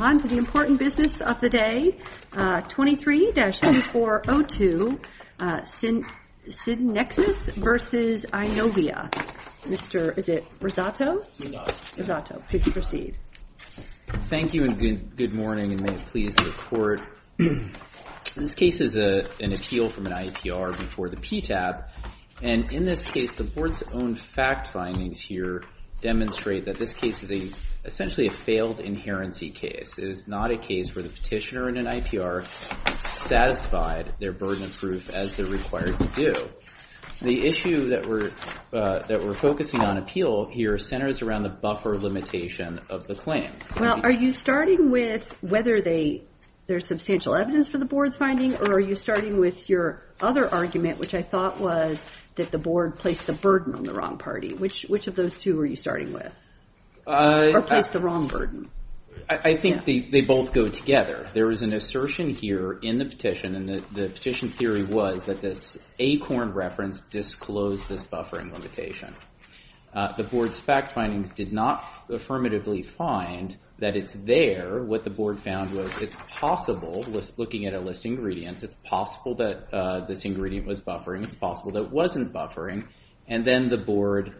On to the important business of the day, 23-2402 SYNNEXIS v. Eyenovia, Mr. Rosato, please proceed. Thank you and good morning and may it please the court. This case is an appeal from an IAPR before the PTAB and in this case the board's own fact findings here demonstrate that this case is essentially a failed inherency case. It is not a case where the petitioner and an IAPR satisfied their burden of proof as they're required to do. The issue that we're focusing on appeal here centers around the buffer limitation of the claims. Well, are you starting with whether there's substantial evidence for the board's finding or are you starting with your other argument, which I thought was that the board placed a burden on the wrong party? Which of those two are you starting with or placed the wrong burden? I think they both go together. There is an assertion here in the petition and the petition theory was that this ACORN reference disclosed this buffering limitation. The board's fact findings did not affirmatively find that it's there. What the board found was it's possible, looking at a list of ingredients, it's possible that this ingredient was buffering, it's possible that it wasn't buffering, and then the board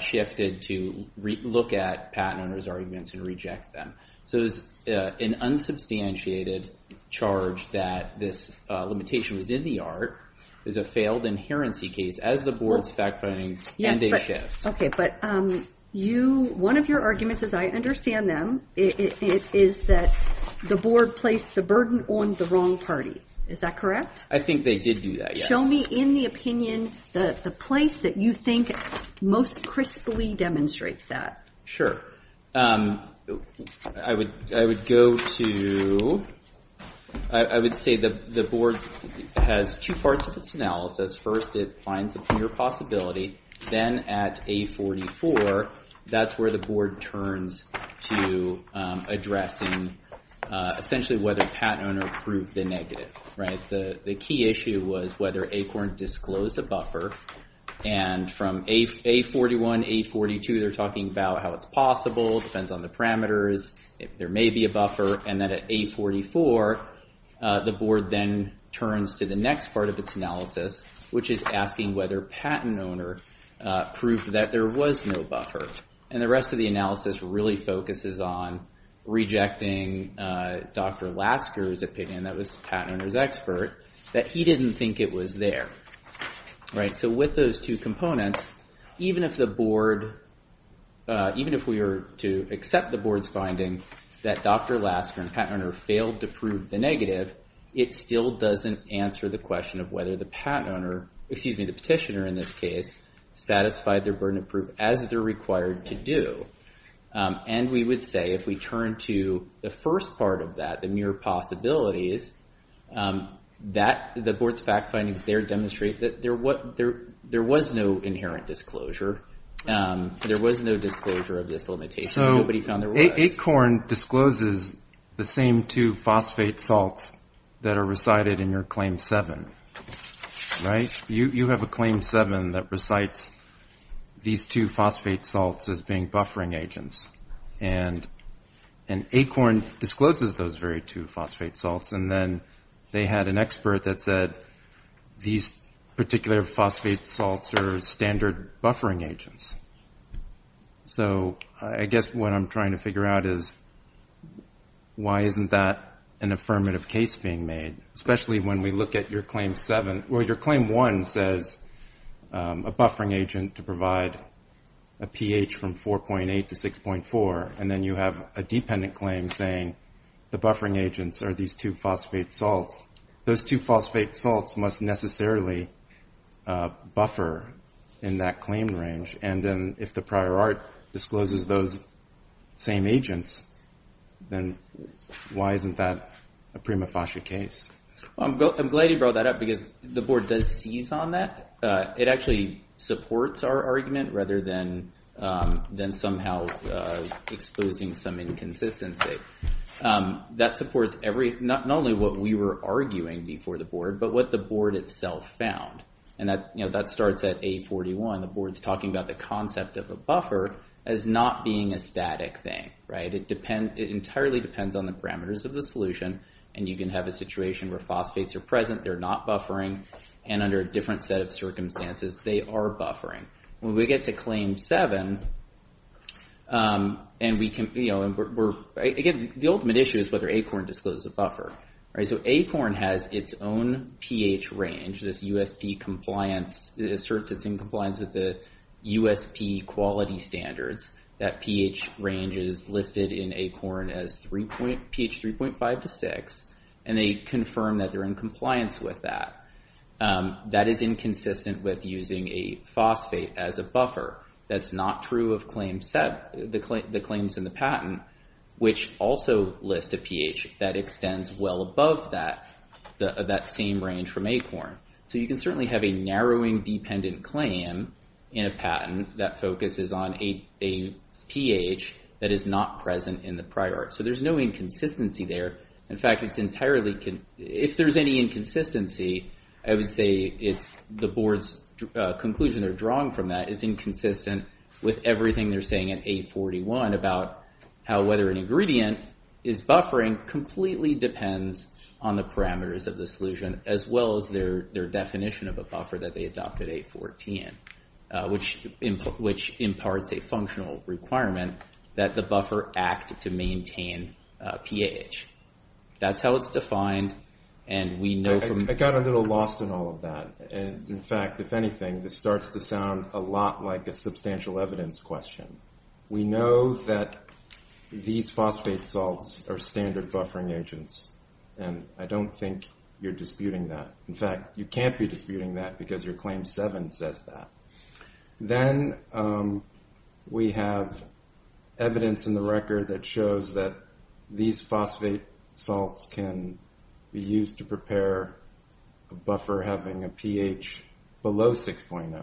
shifted to look at patent owner's arguments and reject them. So it's an unsubstantiated charge that this limitation was in the art, is a failed inherency case as the board's fact findings and they shift. Okay, but one of your arguments as I understand them is that the board placed the burden on the wrong party. Is that correct? I think they did do that, yes. Show me, in the opinion, the place that you think most crisply demonstrates that. I would go to, I would say the board has two parts of its analysis. First it finds a clear possibility, then at A44, that's where the board turns to addressing essentially whether patent owner proved the negative. The key issue was whether ACORN disclosed a buffer and from A41, A42, they're talking about how it's possible, depends on the parameters, there may be a buffer, and then at A44, the board then turns to the next part of its analysis, which is asking whether patent owner proved that there was no buffer. The rest of the analysis really focuses on rejecting Dr. Lasker's opinion, that was patent owner's expert, that he didn't think it was there. With those two components, even if the board, even if we were to accept the board's finding that Dr. Lasker and patent owner failed to prove the negative, it still doesn't answer the question of whether the patent owner, excuse me, the petitioner in this case, satisfied their burden of proof as they're required to do. And we would say if we turn to the first part of that, the mere possibilities, the board's fact findings there demonstrate that there was no inherent disclosure, there was no disclosure of this limitation, nobody found there was. ACORN discloses the same two phosphate salts that are recited in your Claim 7, right? You have a Claim 7 that recites these two phosphate salts as being buffering agents. And ACORN discloses those very two phosphate salts, and then they had an expert that said these particular phosphate salts are standard buffering agents. So I guess what I'm trying to figure out is why isn't that an affirmative case being made, especially when we look at your Claim 7, or your Claim 1 says a buffering agent to provide a pH from 4.8 to 6.4, and then you have a dependent claim saying the buffering agents are these two phosphate salts. Those two phosphate salts must necessarily buffer in that claim range, and then if the prior art discloses those same agents, then why isn't that a prima facie case? I'm glad you brought that up because the board does seize on that. It actually supports our argument rather than somehow exposing some inconsistency. That supports not only what we were arguing before the board, but what the board itself found. And that starts at A41. The board's talking about the concept of a buffer as not being a static thing. It entirely depends on the parameters of the solution, and you can have a situation where phosphates are present, they're not buffering, and under a different set of circumstances, they are buffering. When we get to Claim 7, and we can—again, the ultimate issue is whether ACORN discloses a buffer. So ACORN has its own pH range, this USP compliance—it asserts it's in compliance with the USP quality standards. That pH range is listed in ACORN as pH 3.5 to 6, and they confirm that they're in compliance with that. That is inconsistent with using a phosphate as a buffer. That's not true of Claim 7—the claims in the patent, which also list a pH that extends well above that same range from ACORN. So you can certainly have a narrowing dependent claim in a patent that focuses on a pH that is not present in the prior. So there's no inconsistency there. In fact, it's entirely—if there's any inconsistency, I would say it's the board's conclusion or drawing from that is inconsistent with everything they're saying at A41 about how whether an ingredient is buffering completely depends on the parameters of the solution as well as their definition of a buffer that they adopt at A14, which imparts a functional requirement that the buffer act to maintain pH. That's how it's defined, and we know from— I got a little lost in all of that. In fact, if anything, this starts to sound a lot like a substantial evidence question. We know that these phosphate salts are standard buffering agents, and I don't think you're disputing that. In fact, you can't be disputing that because your Claim 7 says that. Then we have evidence in the record that shows that these phosphate salts can be used to a buffer having a pH below 6.0,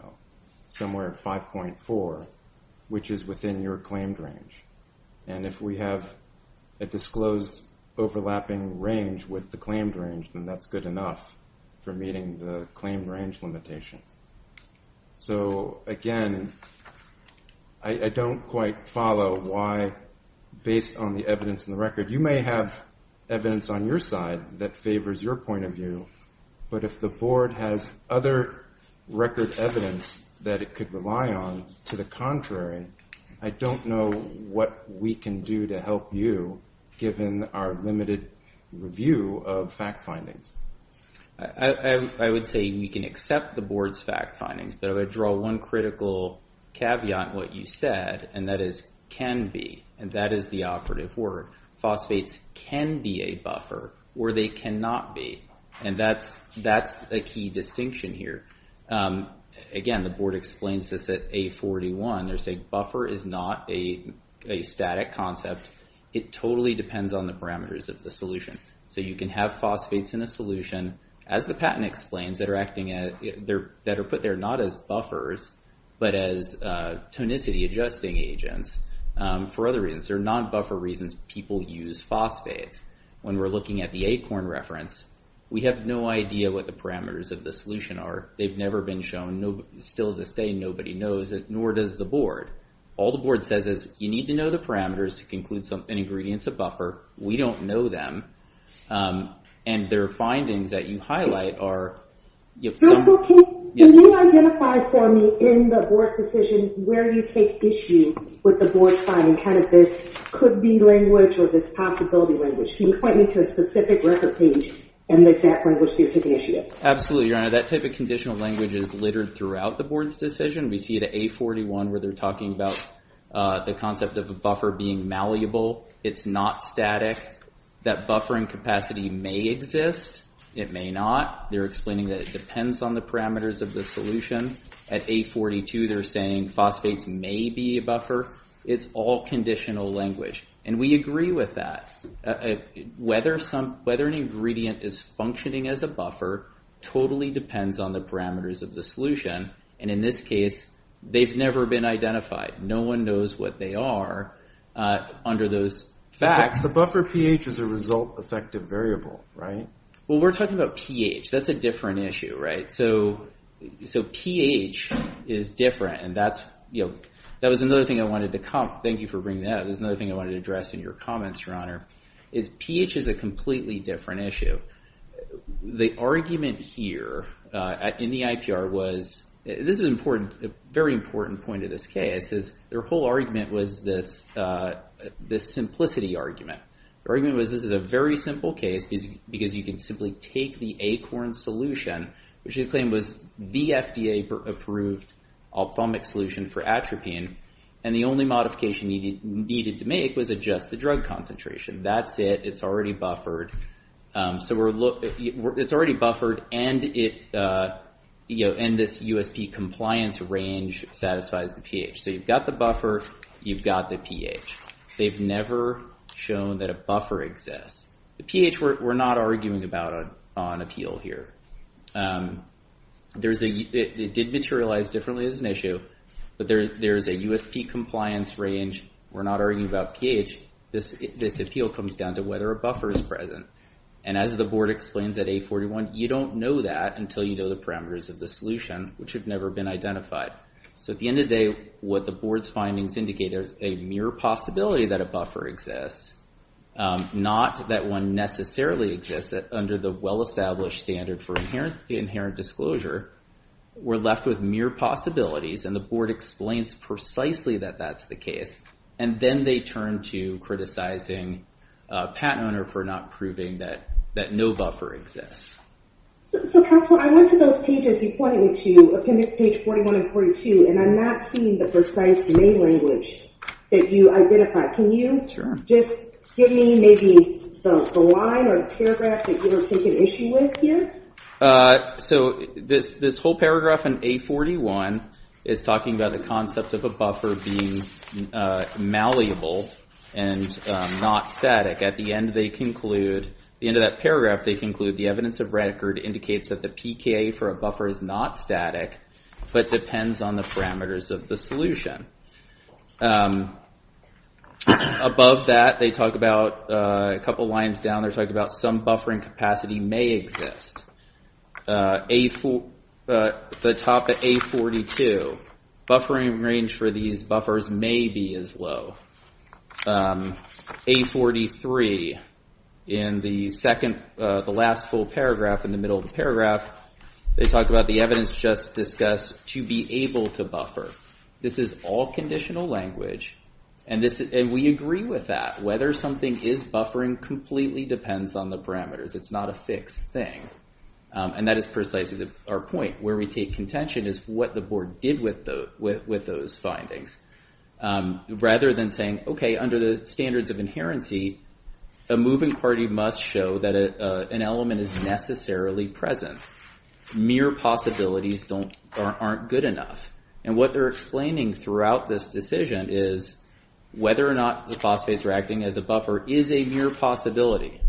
somewhere at 5.4, which is within your claimed range. And if we have a disclosed overlapping range with the claimed range, then that's good enough for meeting the claimed range limitations. So again, I don't quite follow why, based on the evidence in the record—you may have evidence on your side that favors your point of view, but if the board has other record evidence that it could rely on, to the contrary, I don't know what we can do to help you given our limited review of fact findings. I would say we can accept the board's fact findings, but I would draw one critical caveat in what you said, and that is, can be. And that is the operative word. Phosphates can be a buffer, or they cannot be. And that's a key distinction here. Again, the board explains this at A41. They're saying buffer is not a static concept. It totally depends on the parameters of the solution. So you can have phosphates in a solution, as the patent explains, that are put there not as buffers, but as tonicity adjusting agents for other reasons. They're non-buffer reasons people use phosphates. When we're looking at the ACORN reference, we have no idea what the parameters of the solution are. They've never been shown. Still to this day, nobody knows it, nor does the board. All the board says is, you need to know the parameters to conclude an ingredient's a buffer. We don't know them. And their findings that you highlight are— Can you identify for me, in the board's decision, where you take issue with the board's finding kind of this could-be language or this possibility language? Can you point me to a specific record page and the exact language they're taking issue with? Absolutely, Your Honor. That type of conditional language is littered throughout the board's decision. We see it at A41, where they're talking about the concept of a buffer being malleable. It's not static. That buffering capacity may exist. It may not. They're explaining that it depends on the parameters of the solution. At A42, they're saying phosphates may be a buffer. It's all conditional language. And we agree with that. Whether an ingredient is functioning as a buffer totally depends on the parameters of the solution. And in this case, they've never been identified. No one knows what they are under those facts. The buffer pH is a result-effective variable, right? Well, we're talking about pH. That's a different issue, right? So pH is different. And that's, you know, that was another thing I wanted to comment. Thank you for bringing that up. There's another thing I wanted to address in your comments, Your Honor, is pH is a completely different issue. The argument here in the IPR was, this is important, a very important point of this case, is their whole argument was this simplicity argument. The argument was this is a very simple case because you can simply take the ACORN solution, which they claim was the FDA-approved ophthalmic solution for atropine, and the only modification you needed to make was adjust the drug concentration. That's it. It's already buffered. So it's already buffered, and this USP compliance range satisfies the pH. So you've got the buffer. You've got the pH. They've never shown that a buffer exists. The pH we're not arguing about on appeal here. It did materialize differently as an issue, but there is a USP compliance range. We're not arguing about pH. This appeal comes down to whether a buffer is present. And as the board explains at A41, you don't know that until you know the parameters of the solution, which have never been identified. So at the end of the day, what the board's findings indicate is a mere possibility that a buffer exists, not that one necessarily exists under the well-established standard for inherent disclosure. We're left with mere possibilities, and the board explains precisely that that's the case. And then they turn to criticizing a patent owner for not proving that no buffer exists. So Counselor, I went to those pages you pointed me to, appendix page 41 and 42, and I'm not seeing the precise name language that you identified. Can you just give me maybe the line or the paragraph that you were taking issue with here? So this whole paragraph in A41 is talking about the concept of a buffer being malleable and not static. At the end of that paragraph, they conclude the evidence of record indicates that the PKA for a buffer is not static, but depends on the parameters of the solution. Above that, they talk about, a couple lines down, they're talking about some buffering capacity may exist. The top of A42, buffering range for these buffers may be as low. A43, in the last full paragraph, in the middle of the paragraph, they talk about the evidence just discussed to be able to buffer. This is all conditional language, and we agree with that. Whether something is buffering completely depends on the parameters. It's not a fixed thing. And that is precisely our point. Where we take contention is what the board did with those findings. Rather than saying, okay, under the standards of inherency, a moving party must show that an element is necessarily present. Mere possibilities aren't good enough. And what they're explaining throughout this decision is whether or not the phosphase reacting as a buffer is a mere possibility.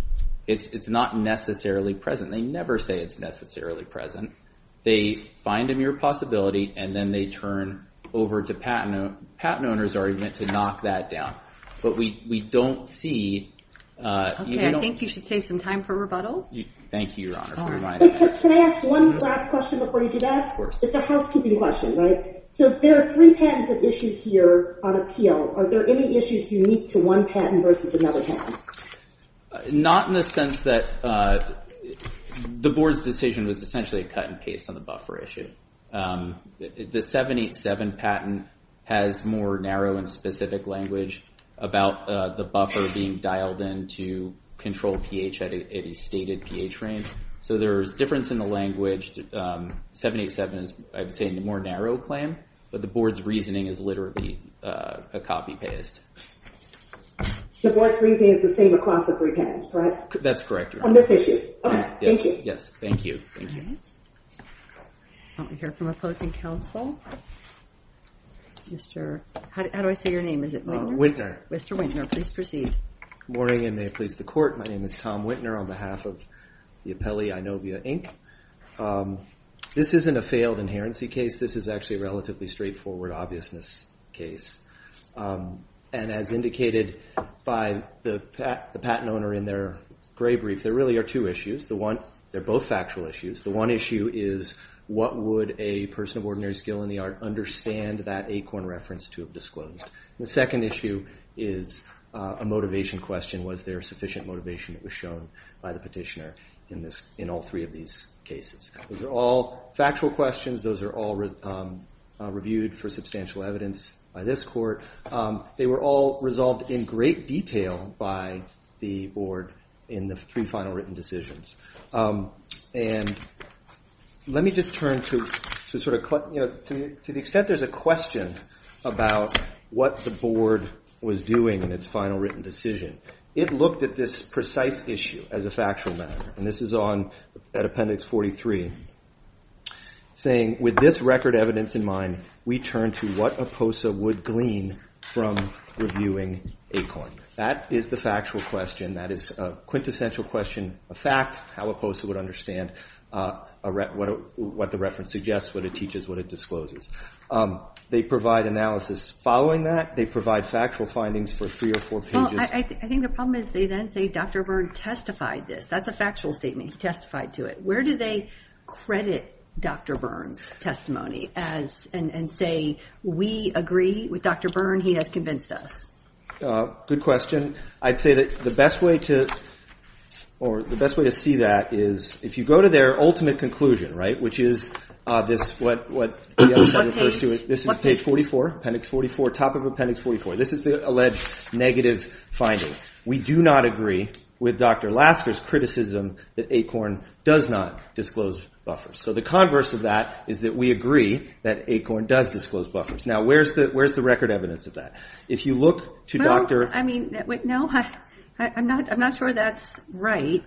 It's not necessarily present. They never say it's necessarily present. They find a mere possibility, and then they turn over to patent owners to knock that down. But we don't see... Okay, I think you should save some time for rebuttal. Thank you, Your Honor, for reminding me. Can I ask one last question before you do that? Of course. It's a housekeeping question, right? So there are three patents at issue here on appeal. Are there any issues unique to one patent versus another patent? Not in the sense that the board's decision was essentially a cut and paste on the buffer issue. The 787 patent has more narrow and specific language about the buffer being dialed in to control pH at a stated pH range. So there's difference in the language. 787 is, I would say, a more narrow claim, but the board's reasoning is literally a copy-paste. The board's reasoning is the same across the three patents, right? That's correct, Your Honor. On this issue. Okay. Thank you. Yes. Thank you. Thank you. All right. I want to hear from opposing counsel. Mr... How do I say your name? Is it Wintner? Wintner. Mr. Wintner, please proceed. Good morning, and may it please the Court. My name is Tom Wintner on behalf of the appellee, Inovia, Inc. This isn't a failed inherency case. This is actually a relatively straightforward obviousness case. And as indicated by the patent owner in their gray brief, there really are two issues. They're both factual issues. The one issue is, what would a person of ordinary skill in the art understand that ACORN reference to have disclosed? The second issue is a motivation question. Was there sufficient motivation that was shown by the petitioner in all three of these cases? Those are all factual questions. Those are all reviewed for substantial evidence by this Court. They were all resolved in great detail by the Board in the three final written decisions. And let me just turn to sort of, you know, to the extent there's a question about what the Board was doing in its final written decision, it looked at this precise issue as a factual matter. And this is on, at Appendix 43, saying, with this record evidence in mind, we turn to what a POSA would glean from reviewing ACORN. That is the factual question. That is a quintessential question, a fact, how a POSA would understand what the reference suggests, what it teaches, what it discloses. They provide analysis following that. They provide factual findings for three or four pages. Well, I think the problem is they then say, Dr. Berg testified this. That's a factual statement. He testified to it. Where do they credit Dr. Berg's testimony and say, we agree with Dr. Berg, he has convinced us? Good question. I'd say that the best way to, or the best way to see that is if you go to their ultimate conclusion, right? Which is this, what the other side refers to, this is page 44, Appendix 44, top of Appendix 44. This is the alleged negative finding. We do not agree with Dr. Lasker's criticism that ACORN does not disclose buffers. The converse of that is that we agree that ACORN does disclose buffers. Now, where's the record evidence of that? If you look to Dr. No, I'm not sure that's right.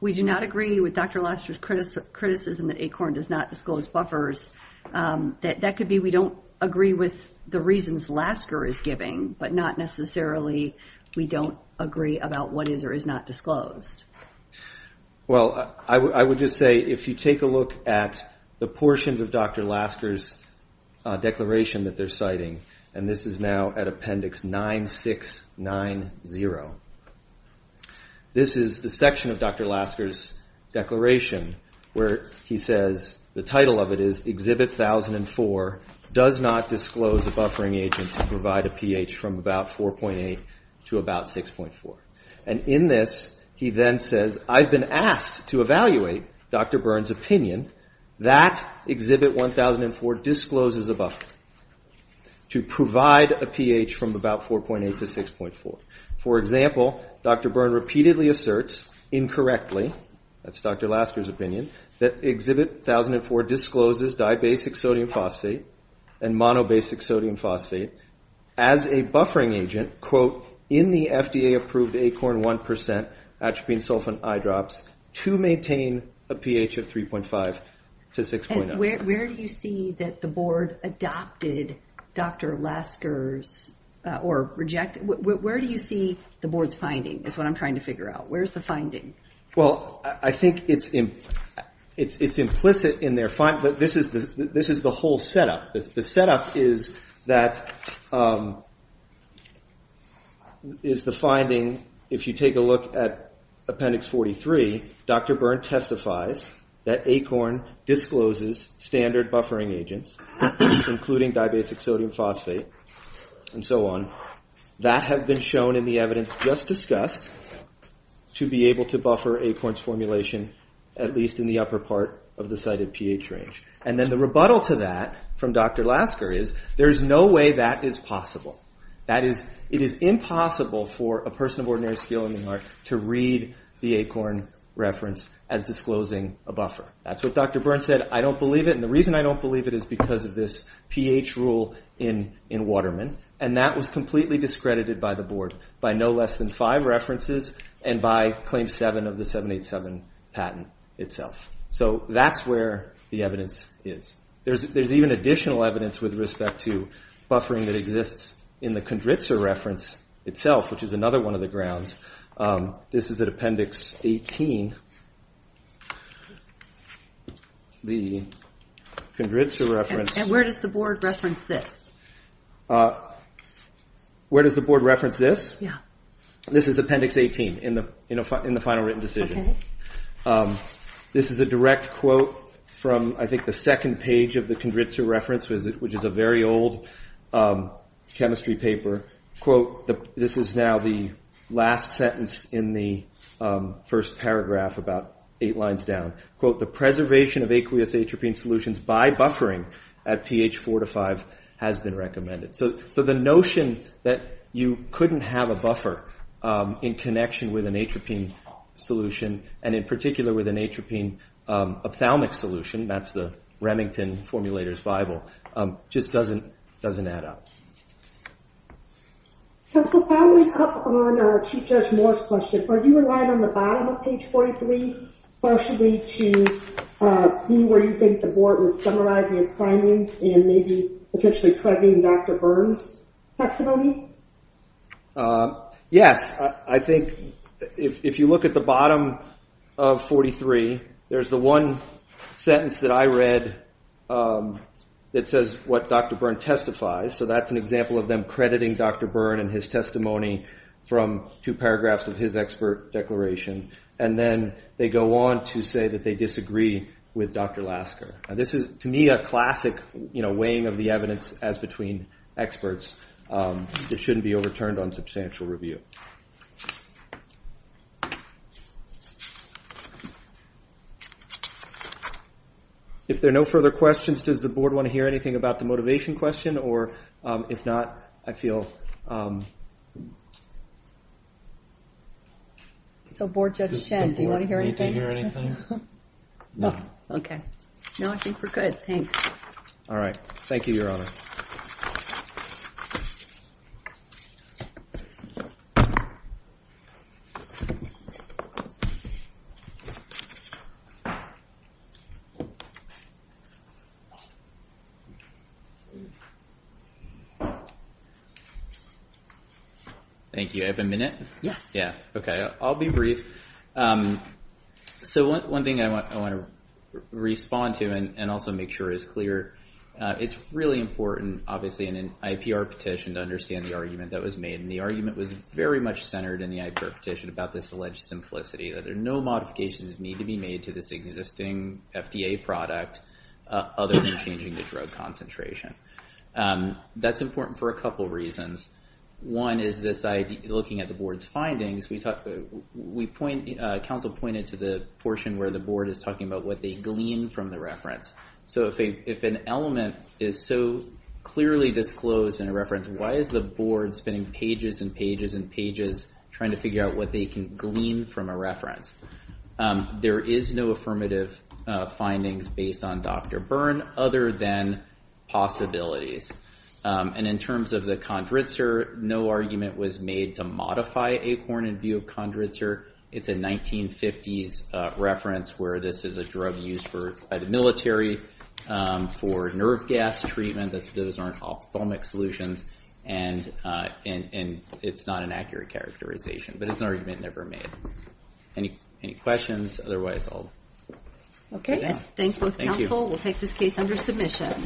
We do not agree with Dr. Lasker's criticism that ACORN does not disclose buffers. That could be we don't agree with the reasons Lasker is giving, but not necessarily we don't agree about what is or is not disclosed. Well, I would just say if you take a look at the portions of Dr. Lasker's declaration that they're citing, and this is now at Appendix 9690, this is the section of Dr. Lasker's he says, the title of it is, Exhibit 1004 does not disclose a buffering agent to provide a pH from about 4.8 to about 6.4. In this, he then says, I've been asked to evaluate Dr. Byrne's opinion that Exhibit 1004 discloses a buffer to provide a pH from about 4.8 to 6.4. For example, Dr. Byrne repeatedly asserts, incorrectly, that's Dr. Lasker's opinion, that Exhibit 1004 discloses dibasic sodium phosphate and monobasic sodium phosphate as a buffering agent, quote, in the FDA-approved ACORN 1% atropine sulfate eyedrops to maintain a pH of 3.5 to 6.0. Where do you see that the board adopted Dr. Lasker's, or rejected, where do you see the board's finding, is what I'm trying to figure out. Where's the finding? Well, I think it's implicit in their finding, this is the whole setup. The setup is that, is the finding, if you take a look at Appendix 43, Dr. Byrne testifies that ACORN discloses standard buffering agents, including dibasic sodium phosphate, and so on, that have been shown in the evidence just discussed to be able to buffer ACORN's formulation, at least in the upper part of the cited pH range. And then the rebuttal to that from Dr. Lasker is, there's no way that is possible. That is, it is impossible for a person of ordinary skill in the art to read the ACORN reference as disclosing a buffer. That's what Dr. Byrne said, I don't believe it, and the reason I don't believe it is because of this pH rule in Waterman, and that was completely discredited by the board, by no less than five references, and by Claim 7 of the 787 patent itself. So that's where the evidence is. There's even additional evidence with respect to buffering that exists in the Condritzer reference itself, which is another one of the grounds. This is at Appendix 18, the Condritzer reference. And where does the board reference this? Where does the board reference this? Yeah. This is Appendix 18, in the final written decision. This is a direct quote from, I think, the second page of the Condritzer reference, which is a very old chemistry paper. Quote, this is now the last sentence in the first paragraph, about eight lines down. Quote, the preservation of aqueous atropine solutions by buffering at pH 4 to 5 has been recommended. So the notion that you couldn't have a buffer in connection with an atropine solution, and in particular with an atropine ophthalmic solution, that's the Remington formulator's bible, just doesn't add up. Can we follow up on Chief Judge Moore's question? Are you relying on the bottom of page 43, partially, to see where you think the board was summarizing its findings, and maybe potentially correcting Dr. Burns' testimony? Yes. I think if you look at the bottom of 43, there's the one sentence that I read that says what Dr. Burns testifies. So that's an example of them crediting Dr. Burns and his testimony from two paragraphs of his expert declaration. And then they go on to say that they disagree with Dr. Lasker. And this is, to me, a classic weighing of the evidence as between experts that shouldn't be overturned on substantial review. If there are no further questions, does the board want to hear anything about the motivation question? Or if not, I feel... So Board Judge Chen, do you want to hear anything? Need to hear anything? No. Okay. No, I think we're good. Thanks. All right. Thank you, Your Honor. Thank you. I have a minute? Yes. Yeah. Okay. I'll be brief. So one thing I want to respond to, and also make sure is clear, it's really important, obviously, in an IPR petition to understand the argument that was made. And the argument was very much centered in the IPR petition about this alleged simplicity, that there are no modifications that need to be made to this existing FDA product other than changing the drug concentration. That's important for a couple reasons. One is this idea, looking at the board's findings, we point... Counsel pointed to the portion where the board is talking about what they glean from the reference. So if an element is so clearly disclosed in a reference, why is the board spending pages and pages and pages trying to figure out what they can glean from a reference? There is no affirmative findings based on Dr. Byrne other than possibilities. And in terms of the Kondritzer, no argument was made to modify ACORN in view of Kondritzer. It's a 1950s reference where this is a drug used by the military for nerve gas treatment. Those aren't ophthalmic solutions. And it's not an accurate characterization. But it's an argument never made. Any questions? Otherwise, I'll... Okay. Thank you. Thank you. We'll take this case under submission.